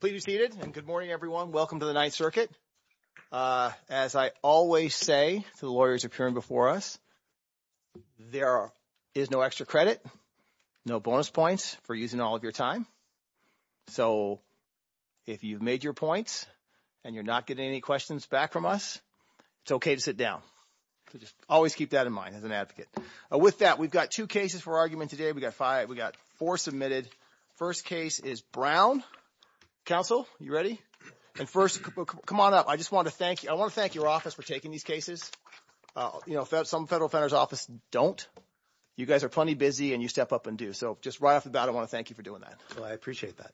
Please be seated and good morning, everyone. Welcome to the Ninth Circuit. As I always say to the lawyers appearing before us, there is no extra credit, no bonus points for using all of your time. So if you've made your points and you're not getting any questions back from us, it's OK to sit down. So just always keep that in mind as an advocate. With that, we've got two cases for argument today. We've got five. We've got four submitted. First case is Brown. Counsel, you ready? And first, come on up. I just want to thank you. I want to thank your office for taking these cases. You know, some federal offender's office don't. You guys are plenty busy and you step up and do so just right off the bat. I want to thank you for doing that. Well, I appreciate that.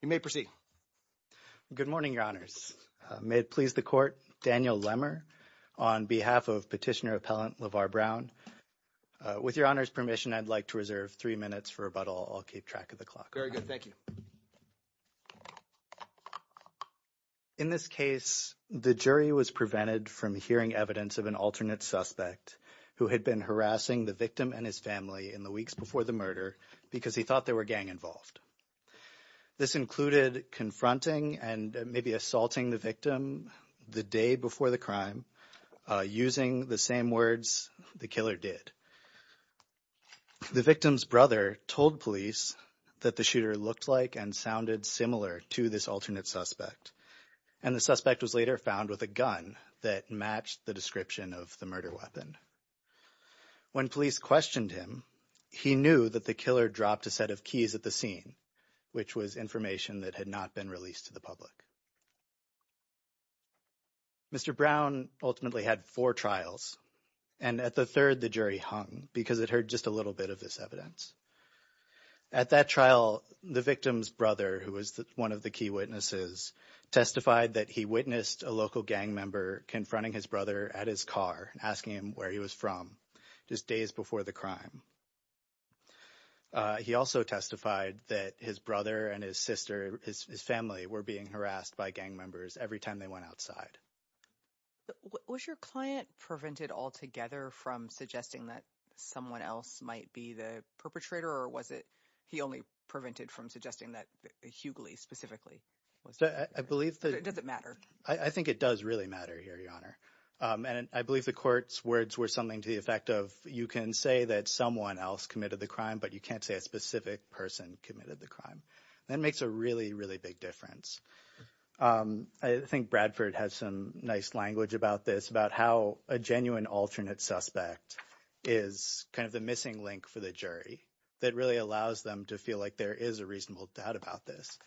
You may proceed. Good morning, Your Honors. May it please the court. Daniel Lemmer on behalf of petitioner appellant Lavar Brown. With your honor's permission, I'd like to reserve three minutes for rebuttal. I'll keep track of the clock. Very good. Thank you. In this case, the jury was prevented from hearing evidence of an alternate suspect who had been harassing the victim and his family in the weeks before the murder because he thought there were gang involved. This included confronting and maybe assaulting the victim the day before the crime using the same words the killer did. The victim's brother told police that the shooter looked like and sounded similar to this alternate suspect. And the suspect was later found with a gun that matched the description of the murder weapon. When police questioned him, he knew that the killer dropped a set of keys at the scene, which was information that had not been released to the public. Mr. Brown ultimately had four trials and at the third, the jury hung because it heard just a little bit of this evidence. At that trial, the victim's brother, who was one of the key witnesses, testified that he witnessed a local gang member confronting his brother at his car and asking him where he was from just days before the crime. He also testified that his brother and his sister, his family, were being harassed by gang members every time they went outside. Was your client prevented altogether from suggesting that someone else might be the perpetrator? Or was it he only prevented from suggesting that Hughley specifically? I believe that it doesn't matter. I think it does really matter here, Your Honor. And I believe the court's words were something to the effect of you can say that someone else committed the crime, but you can't say a specific person committed the crime. That makes a really, really big difference. I think Bradford has some nice language about this, about how a genuine alternate suspect is kind of the missing link for the jury that really allows them to feel like there is a reasonable doubt about this.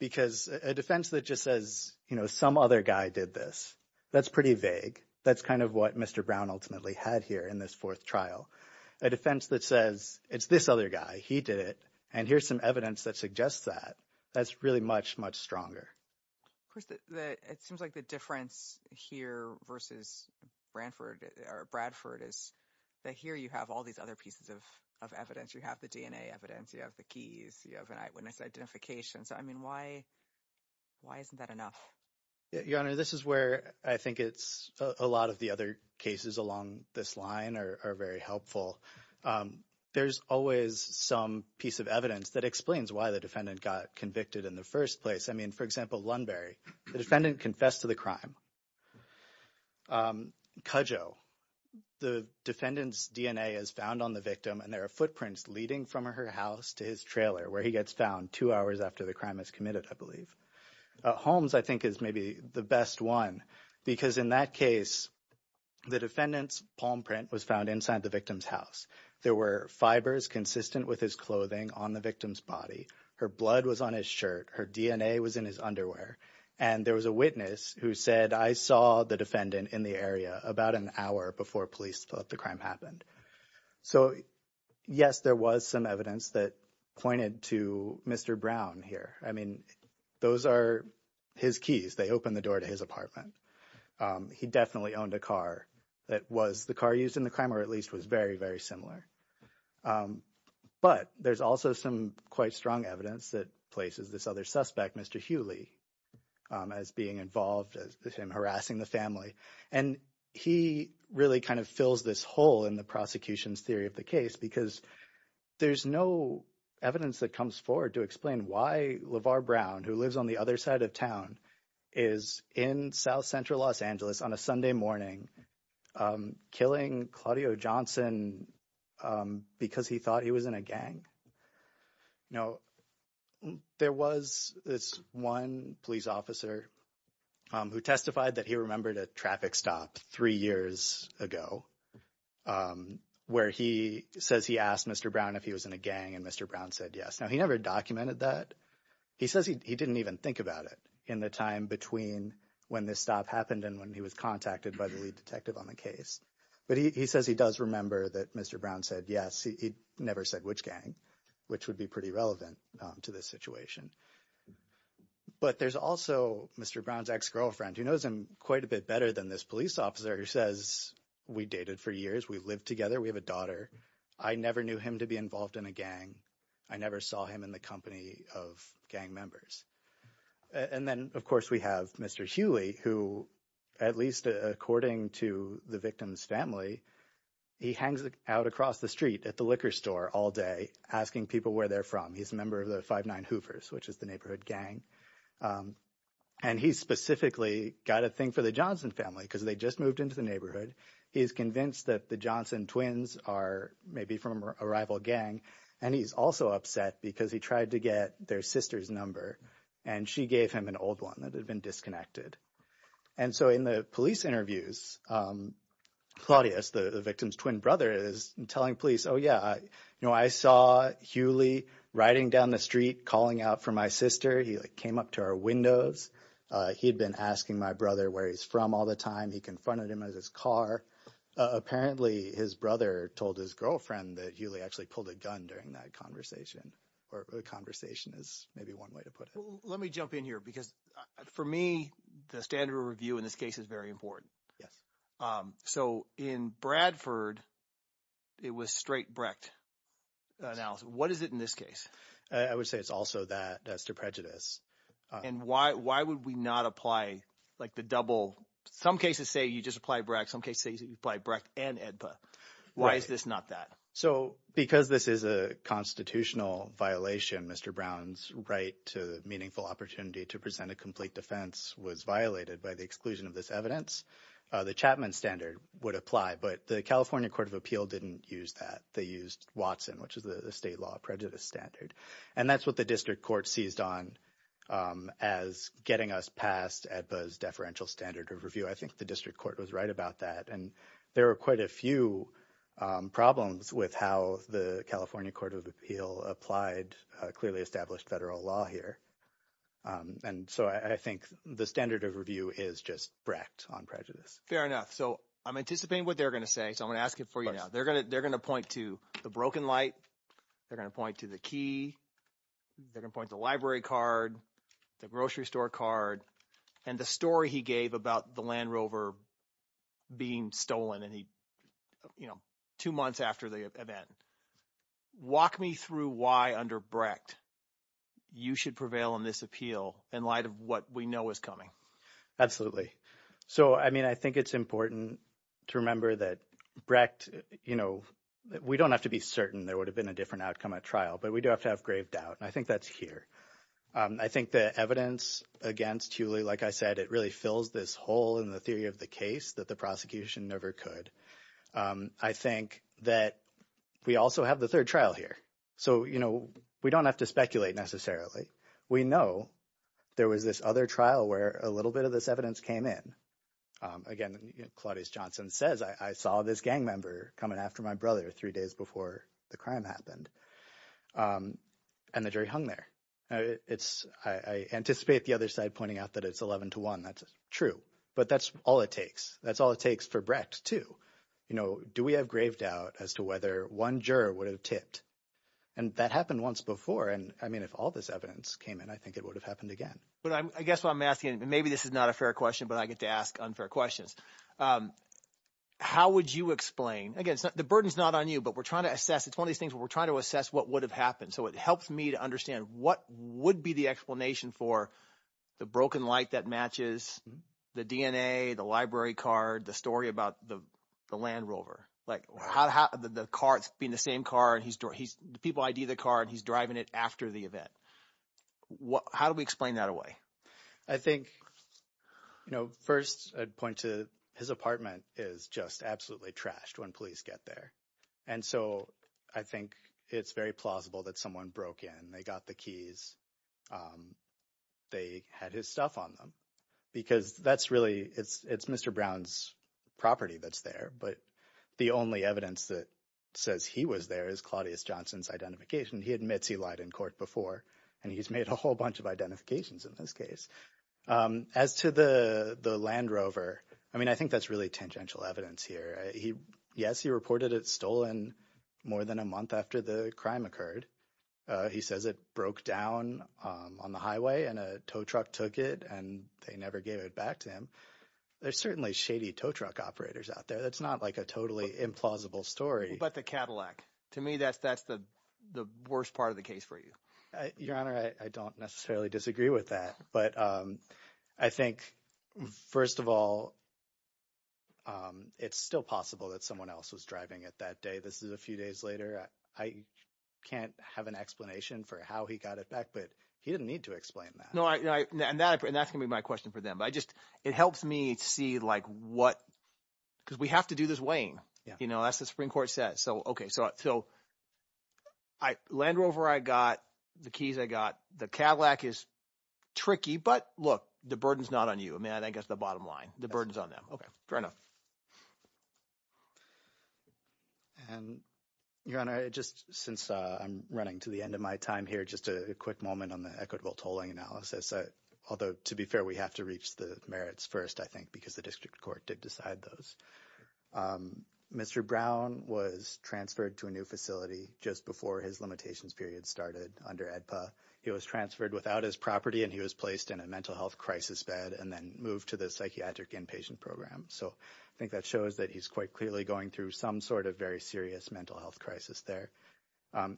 Because a defense that just says, you know, some other guy did this, that's pretty vague. That's kind of what Mr. Brown ultimately had here in this fourth trial. A defense that says it's this other guy. He did it. And here's some evidence that suggests that. That's really much, much stronger. Chris, it seems like the difference here versus Bradford is that here you have all these other pieces of evidence. You have the DNA evidence. You have the keys. You have an eyewitness identification. So, I mean, why isn't that enough? Your Honor, this is where I think it's a lot of the other cases along this line are very helpful. There's always some piece of evidence that explains why the defendant got convicted in the first place. I mean, for example, Lunbury. The defendant confessed to the crime. Cudjoe. The defendant's DNA is found on the victim, and there are footprints leading from her house to his trailer, where he gets found two hours after the crime is committed, I believe. Holmes, I think, is maybe the best one. Because in that case, the defendant's palm print was found inside the victim's house. There were fibers consistent with his clothing on the victim's body. Her blood was on his shirt. Her DNA was in his underwear. And there was a witness who said, I saw the defendant in the area about an hour before police thought the crime happened. So, yes, there was some evidence that pointed to Mr. Brown here. I mean, those are his keys. They opened the door to his apartment. He definitely owned a car that was the car used in the crime, or at least was very, very similar. But there's also some quite strong evidence that places this other suspect, Mr. Hewley, as being involved, as him harassing the family. And he really kind of fills this hole in the prosecution's theory of the case, because there's no evidence that comes forward to explain why LeVar Brown, who lives on the other side of town, is in South Central Los Angeles on a Sunday morning killing Claudio Johnson because he thought he was in a gang. No, there was this one police officer who testified that he remembered a traffic stop three years ago where he says he asked Mr. Brown if he was in a gang and Mr. Brown said yes. Now, he never documented that. He says he didn't even think about it in the time between when this stop happened and when he was contacted by the lead detective on the case. But he says he does remember that Mr. Brown said yes. He never said which gang, which would be pretty relevant to this situation. But there's also Mr. Brown's ex-girlfriend, who knows him quite a bit better than this police officer, who says we dated for years. We lived together. We have a daughter. I never knew him to be involved in a gang. I never saw him in the company of gang members. And then, of course, we have Mr. Hughley, who at least according to the victim's family, he hangs out across the street at the liquor store all day asking people where they're from. He's a member of the Five Nine Hoovers, which is the neighborhood gang. And he specifically got a thing for the Johnson family because they just moved into the neighborhood. He's convinced that the Johnson twins are maybe from a rival gang. And he's also upset because he tried to get their sister's number, and she gave him an old one that had been disconnected. And so in the police interviews, Claudius, the victim's twin brother, is telling police, oh, yeah, you know, I saw Hughley riding down the street calling out for my sister. He came up to our windows. He'd been asking my brother where he's from all the time. He confronted him in his car. Apparently, his brother told his girlfriend that Hughley actually pulled a gun during that conversation or conversation is maybe one way to put it. Let me jump in here because for me, the standard of review in this case is very important. Yes. So in Bradford, it was straight Brecht analysis. What is it in this case? I would say it's also that as to prejudice. And why would we not apply like the double? Some cases say you just apply Brecht. Some cases you apply Brecht and EDPA. Why is this not that? So because this is a constitutional violation, Mr. Brown's right to meaningful opportunity to present a complete defense was violated by the exclusion of this evidence. The Chapman standard would apply. But the California Court of Appeal didn't use that. They used Watson, which is the state law prejudice standard. And that's what the district court seized on as getting us past EDPA's deferential standard of review. I think the district court was right about that, and there are quite a few problems with how the California Court of Appeal applied clearly established federal law here. And so I think the standard of review is just Brecht on prejudice. Fair enough. So I'm anticipating what they're going to say, so I'm going to ask it for you now. They're going to point to the broken light. They're going to point to the key. They're going to point to the library card, the grocery store card, and the story he gave about the Land Rover being stolen two months after the event. Walk me through why under Brecht you should prevail in this appeal in light of what we know is coming. Absolutely. So, I mean, I think it's important to remember that Brecht – we don't have to be certain there would have been a different outcome at trial, but we do have to have grave doubt, and I think that's here. I think the evidence against Hewley, like I said, it really fills this hole in the theory of the case that the prosecution never could. I think that we also have the third trial here. So we don't have to speculate necessarily. We know there was this other trial where a little bit of this evidence came in. Again, Claudius Johnson says, I saw this gang member coming after my brother three days before the crime happened, and the jury hung there. I anticipate the other side pointing out that it's 11 to 1. That's true, but that's all it takes. That's all it takes for Brecht too. Do we have grave doubt as to whether one juror would have tipped? And that happened once before, and, I mean, if all this evidence came in, I think it would have happened again. But I guess what I'm asking – and maybe this is not a fair question, but I get to ask unfair questions. How would you explain – again, the burden is not on you, but we're trying to assess. It's one of these things where we're trying to assess what would have happened. So it helps me to understand what would be the explanation for the broken light that matches, the DNA, the library card, the story about the Land Rover. Like the car – it's being the same car, and he's – the people ID the car, and he's driving it after the event. How do we explain that away? I think first I'd point to his apartment is just absolutely trashed when police get there. And so I think it's very plausible that someone broke in. They got the keys. They had his stuff on them because that's really – it's Mr. Brown's property that's there. But the only evidence that says he was there is Claudius Johnson's identification. He admits he lied in court before, and he's made a whole bunch of identifications in this case. As to the Land Rover, I mean I think that's really tangential evidence here. Yes, he reported it stolen more than a month after the crime occurred. He says it broke down on the highway and a tow truck took it, and they never gave it back to him. There's certainly shady tow truck operators out there. That's not like a totally implausible story. What about the Cadillac? To me, that's the worst part of the case for you. Your Honor, I don't necessarily disagree with that, but I think first of all, it's still possible that someone else was driving it that day. This is a few days later. I can't have an explanation for how he got it back, but he didn't need to explain that. No, and that's going to be my question for them. But I just – it helps me see like what – because we have to do this weighing. That's what the Supreme Court says. So okay, so Land Rover I got. The keys I got. The Cadillac is tricky, but look, the burden is not on you. I mean I think that's the bottom line. The burden is on them. Fair enough. And, Your Honor, just since I'm running to the end of my time here, just a quick moment on the equitable tolling analysis. Although, to be fair, we have to reach the merits first I think because the district court did decide those. Mr. Brown was transferred to a new facility just before his limitations period started under AEDPA. He was transferred without his property, and he was placed in a mental health crisis bed and then moved to the psychiatric inpatient program. So I think that shows that he's quite clearly going through some sort of very serious mental health crisis there.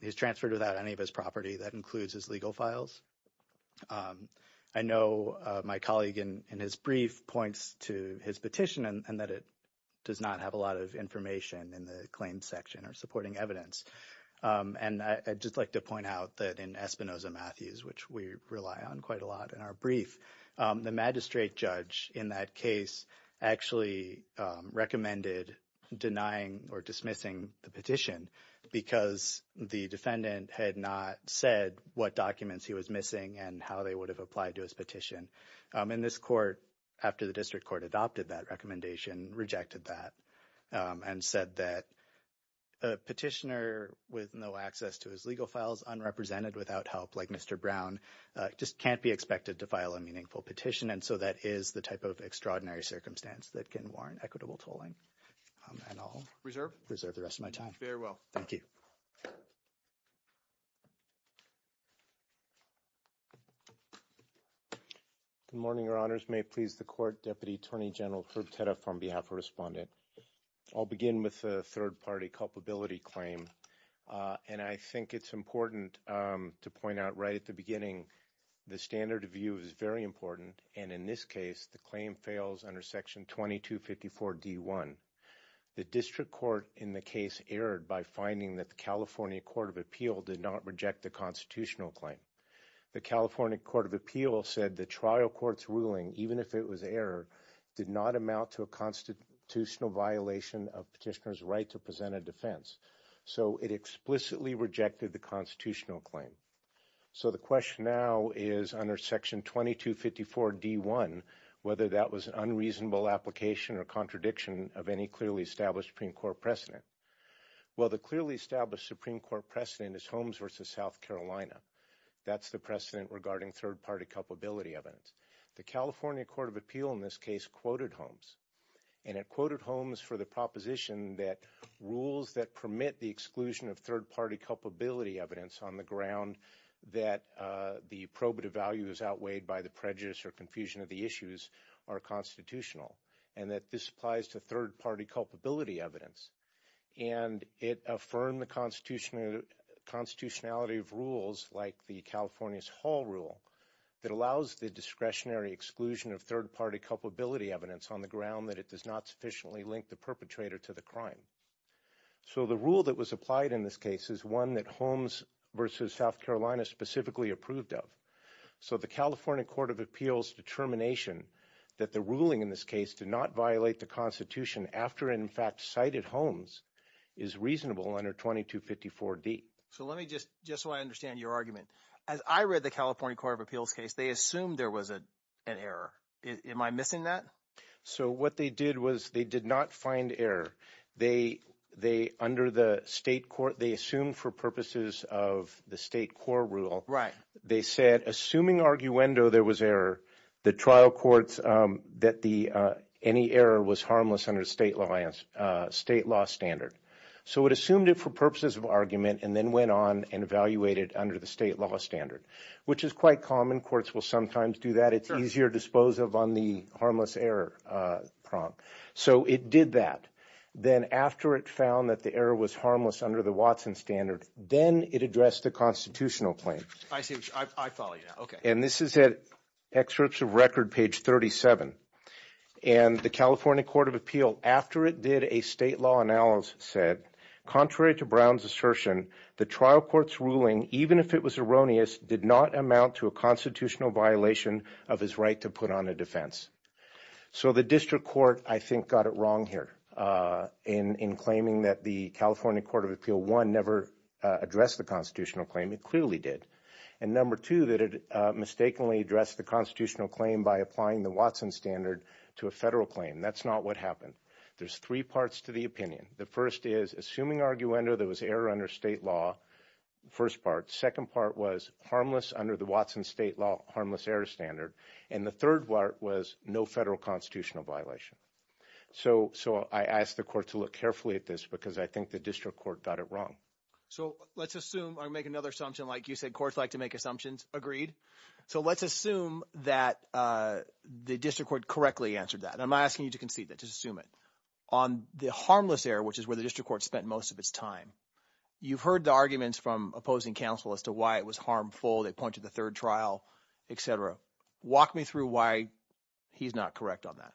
He was transferred without any of his property. That includes his legal files. I know my colleague in his brief points to his petition and that it does not have a lot of information in the claims section or supporting evidence. And I'd just like to point out that in Espinoza-Matthews, which we rely on quite a lot in our brief, the magistrate judge in that case actually recommended denying or dismissing the petition because the defendant had not said what documents he was missing and how they would have applied to his petition. And this court, after the district court adopted that recommendation, rejected that and said that a petitioner with no access to his legal files, unrepresented, without help like Mr. Brown, just can't be expected to file a meaningful petition. And so that is the type of extraordinary circumstance that can warrant equitable tolling. And I'll reserve the rest of my time. Very well. Thank you. Good morning, Your Honors. May it please the court, Deputy Attorney General Herb Tedda from behalf of Respondent. I'll begin with the third-party culpability claim. And I think it's important to point out right at the beginning the standard of view is very important. And in this case, the claim fails under Section 2254D1. The district court in the case erred by finding that the California Court of Appeal did not reject the constitutional claim. The California Court of Appeal said the trial court's ruling, even if it was error, did not amount to a constitutional violation of petitioner's right to present a defense. So it explicitly rejected the constitutional claim. So the question now is, under Section 2254D1, whether that was an unreasonable application or contradiction of any clearly established Supreme Court precedent. Well, the clearly established Supreme Court precedent is Holmes v. South Carolina. That's the precedent regarding third-party culpability evidence. The California Court of Appeal in this case quoted Holmes. And it quoted Holmes for the proposition that rules that permit the exclusion of third-party culpability evidence on the ground that the probative value is outweighed by the prejudice or confusion of the issues are constitutional, and that this applies to third-party culpability evidence. And it affirmed the constitutionality of rules like the California's Hall Rule that allows the discretionary exclusion of third-party culpability evidence on the ground that it does not sufficiently link the perpetrator to the crime. So the rule that was applied in this case is one that Holmes v. South Carolina specifically approved of. So the California Court of Appeals determination that the ruling in this case did not violate the constitution after, in fact, cited Holmes is reasonable under 2254D. So let me just – just so I understand your argument. As I read the California Court of Appeals case, they assumed there was an error. Am I missing that? So what they did was they did not find error. They – under the state court – they assumed for purposes of the state court rule. Right. They said, assuming arguendo there was error, the trial courts that the – any error was harmless under state law standard. So it assumed it for purposes of argument and then went on and evaluated under the state law standard, which is quite common. Courts will sometimes do that. It's easier to dispose of on the harmless error prompt. So it did that. Then after it found that the error was harmless under the Watson standard, then it addressed the constitutional claim. I see. I follow you now. And this is at excerpts of record, page 37. And the California Court of Appeals, after it did a state law analysis, said, contrary to Brown's assertion, the trial court's ruling, even if it was erroneous, did not amount to a constitutional violation of his right to put on a defense. So the district court, I think, got it wrong here in claiming that the California Court of Appeals, one, never addressed the constitutional claim. It clearly did. And number two, that it mistakenly addressed the constitutional claim by applying the Watson standard to a federal claim. That's not what happened. There's three parts to the opinion. The first is, assuming arguendo there was error under state law, first part. Second part was harmless under the Watson state law harmless error standard. And the third part was no federal constitutional violation. So I ask the court to look carefully at this because I think the district court got it wrong. So let's assume I make another assumption like you said courts like to make assumptions. Agreed. So let's assume that the district court correctly answered that. And I'm not asking you to concede that. Just assume it. On the harmless error, which is where the district court spent most of its time, you've heard the arguments from opposing counsel as to why it was harmful. They point to the third trial, et cetera. Walk me through why he's not correct on that.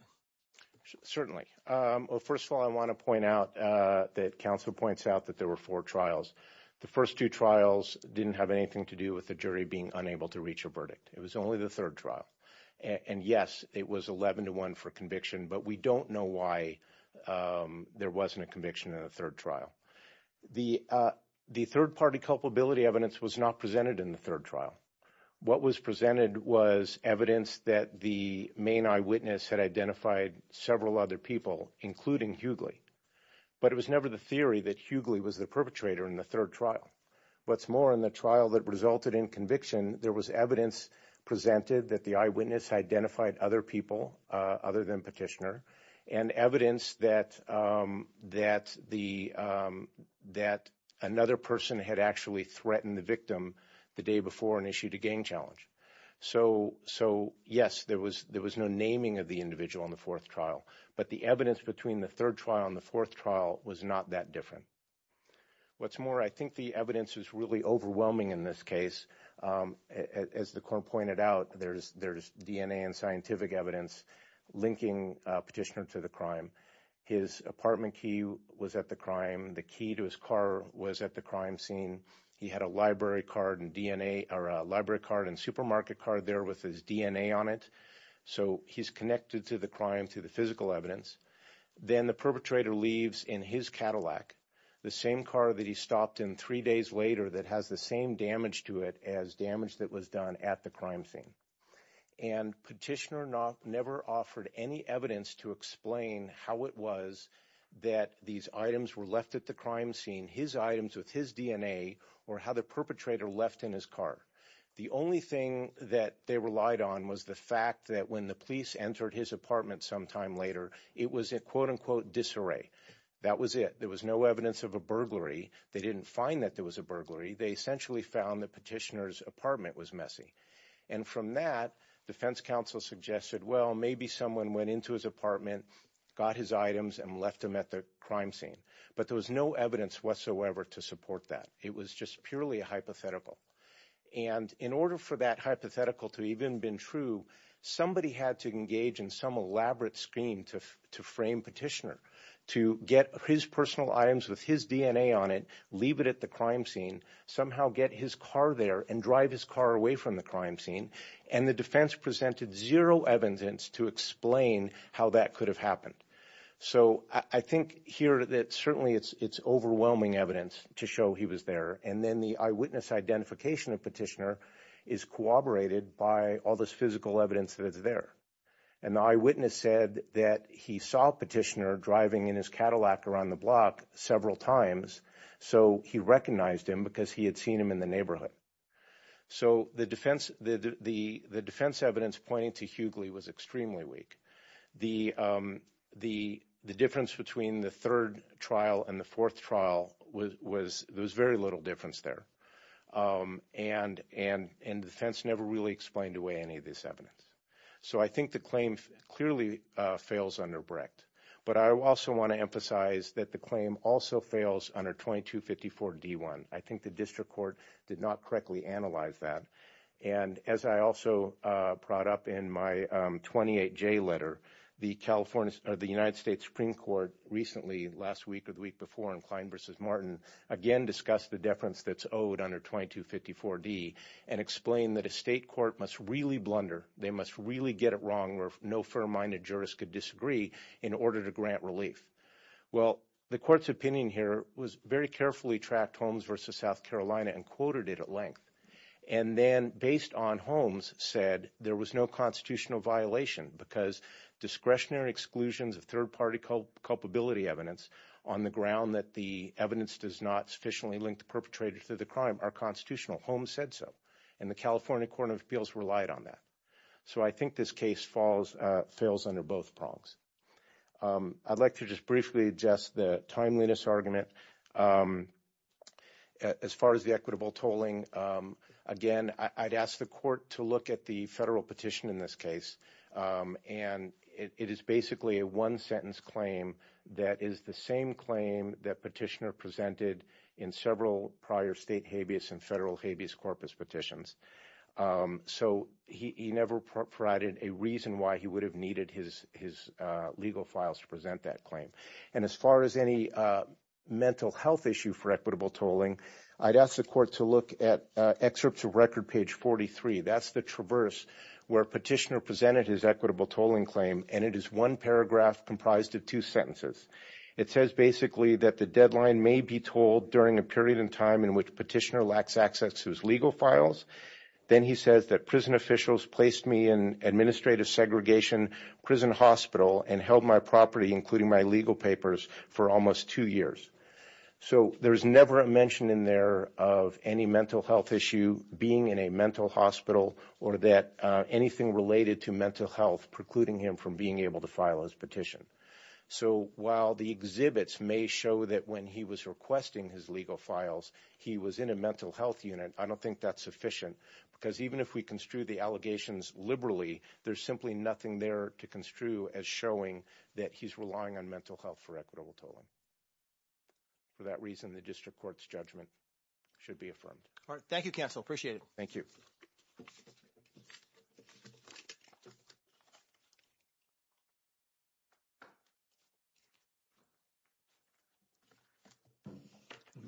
Certainly. Well, first of all, I want to point out that counsel points out that there were four trials. The first two trials didn't have anything to do with the jury being unable to reach a verdict. It was only the third trial. And, yes, it was 11 to 1 for conviction. But we don't know why there wasn't a conviction in the third trial. The third party culpability evidence was not presented in the third trial. What was presented was evidence that the main eyewitness had identified several other people, including Hughley. But it was never the theory that Hughley was the perpetrator in the third trial. What's more, in the trial that resulted in conviction, there was evidence presented that the eyewitness identified other people other than Petitioner. And evidence that another person had actually threatened the victim the day before and issued a gang challenge. So, yes, there was no naming of the individual in the fourth trial. But the evidence between the third trial and the fourth trial was not that different. What's more, I think the evidence is really overwhelming in this case. As the court pointed out, there's DNA and scientific evidence linking Petitioner to the crime. His apartment key was at the crime. The key to his car was at the crime scene. He had a library card and DNA or a library card and supermarket card there with his DNA on it. So he's connected to the crime, to the physical evidence. Then the perpetrator leaves in his Cadillac, the same car that he stopped in three days later that has the same damage to it as damage that was done at the crime scene. And Petitioner never offered any evidence to explain how it was that these items were left at the crime scene. His items with his DNA or how the perpetrator left in his car. The only thing that they relied on was the fact that when the police entered his apartment sometime later, it was a quote unquote disarray. That was it. There was no evidence of a burglary. They didn't find that there was a burglary. They essentially found that Petitioner's apartment was messy. And from that, defense counsel suggested, well, maybe someone went into his apartment, got his items and left them at the crime scene. But there was no evidence whatsoever to support that. It was just purely a hypothetical. And in order for that hypothetical to even been true, somebody had to engage in some elaborate scheme to frame Petitioner to get his personal items with his DNA on it. Leave it at the crime scene, somehow get his car there and drive his car away from the crime scene. And the defense presented zero evidence to explain how that could have happened. So I think here that certainly it's overwhelming evidence to show he was there. And then the eyewitness identification of Petitioner is corroborated by all this physical evidence that is there. And the eyewitness said that he saw Petitioner driving in his Cadillac around the block several times. So he recognized him because he had seen him in the neighborhood. So the defense, the defense evidence pointing to Hughley was extremely weak. The difference between the third trial and the fourth trial was there was very little difference there. And the defense never really explained away any of this evidence. So I think the claim clearly fails under Brecht. But I also want to emphasize that the claim also fails under 2254 D1. I think the district court did not correctly analyze that. And as I also brought up in my 28J letter, the United States Supreme Court recently, last week or the week before, in Klein v. Martin, again discussed the deference that's owed under 2254 D and explained that a state court must really blunder. They must really get it wrong or no fair-minded jurist could disagree in order to grant relief. Well, the court's opinion here was very carefully tracked Holmes v. South Carolina and quoted it at length. And then based on Holmes said there was no constitutional violation because discretionary exclusions of third-party culpability evidence on the ground that the evidence does not sufficiently link the perpetrator to the crime are constitutional. Holmes said so. And the California Court of Appeals relied on that. So I think this case falls, fails under both prongs. I'd like to just briefly adjust the timeliness argument as far as the equitable tolling. Again, I'd ask the court to look at the federal petition in this case. And it is basically a one-sentence claim that is the same claim that Petitioner presented in several prior state habeas and federal habeas corpus petitions. So he never provided a reason why he would have needed his legal files to present that claim. And as far as any mental health issue for equitable tolling, I'd ask the court to look at excerpts of record page 43. That's the traverse where Petitioner presented his equitable tolling claim. And it is one paragraph comprised of two sentences. It says basically that the deadline may be tolled during a period in time in which Petitioner lacks access to his legal files. Then he says that prison officials placed me in administrative segregation prison hospital and held my property, including my legal papers, for almost two years. So there's never a mention in there of any mental health issue, being in a mental hospital, or that anything related to mental health precluding him from being able to file his petition. So while the exhibits may show that when he was requesting his legal files, he was in a mental health unit, I don't think that's sufficient. Because even if we construe the allegations liberally, there's simply nothing there to construe as showing that he's relying on mental health for equitable tolling. For that reason, the district court's judgment should be affirmed. All right. Thank you, counsel. Appreciate it. Thank you.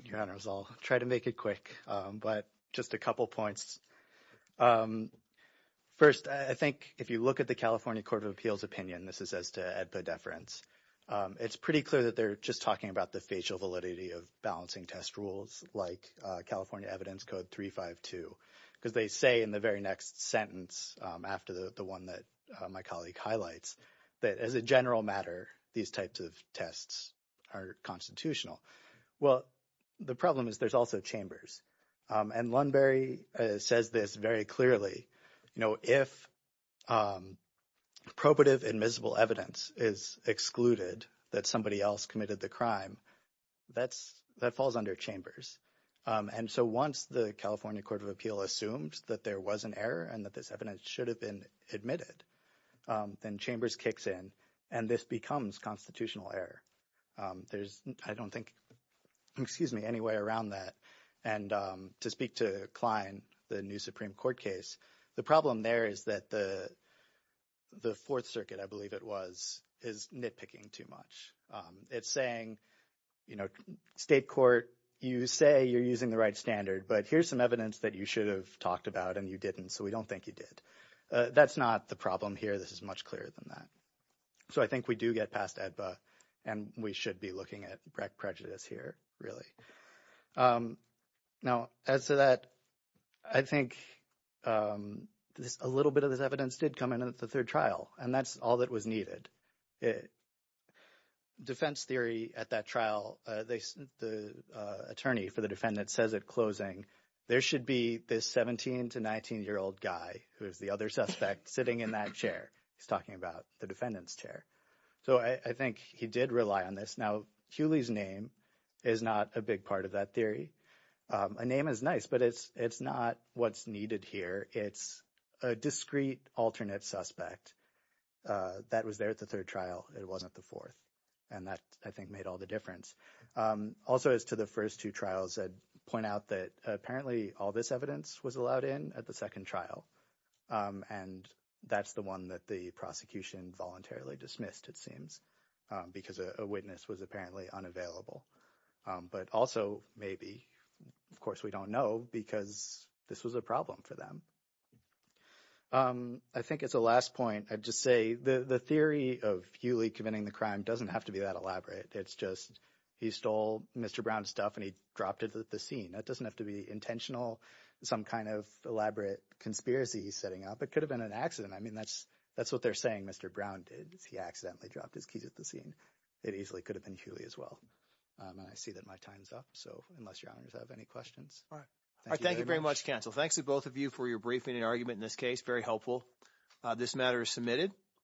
Your Honors, I'll try to make it quick. But just a couple of points. First, I think if you look at the California Court of Appeals opinion, this is as to EDPA deference. It's pretty clear that they're just talking about the facial validity of balancing test rules like California Evidence Code 352. Because they say in the very next sentence, after the one that my colleague highlights, that as a general matter, these types of tests are constitutional. Well, the problem is there's also chambers. And Lunbury says this very clearly. If probative admissible evidence is excluded that somebody else committed the crime, that falls under chambers. And so once the California Court of Appeals assumes that there was an error and that this evidence should have been admitted, then chambers kicks in. And this becomes constitutional error. There's, I don't think, excuse me, any way around that. And to speak to Klein, the new Supreme Court case, the problem there is that the Fourth Circuit, I believe it was, is nitpicking too much. It's saying, you know, state court, you say you're using the right standard. But here's some evidence that you should have talked about and you didn't. So we don't think you did. That's not the problem here. This is much clearer than that. So I think we do get past EDPA. And we should be looking at prejudice here, really. Now, as to that, I think a little bit of this evidence did come in at the third trial. And that's all that was needed. Defense theory at that trial, the attorney for the defendant says at closing, there should be this 17- to 19-year-old guy who is the other suspect sitting in that chair. He's talking about the defendant's chair. So I think he did rely on this. Now, Hewley's name is not a big part of that theory. A name is nice, but it's not what's needed here. It's a discrete alternate suspect that was there at the third trial. It wasn't at the fourth. And that, I think, made all the difference. Also, as to the first two trials, I'd point out that apparently all this evidence was allowed in at the second trial. And that's the one that the prosecution voluntarily dismissed, it seems, because a witness was apparently unavailable. But also maybe, of course we don't know, because this was a problem for them. I think as a last point, I'd just say the theory of Hewley committing the crime doesn't have to be that elaborate. It's just he stole Mr. Brown's stuff and he dropped it at the scene. That doesn't have to be intentional, some kind of elaborate conspiracy he's setting up. It could have been an accident. I mean that's what they're saying Mr. Brown did is he accidentally dropped his keys at the scene. It easily could have been Hewley as well. And I see that my time's up, so unless your honors have any questions. Thank you very much. Thank you very much, counsel. Thanks to both of you for your briefing and argument in this case. Very helpful. This matter is submitted.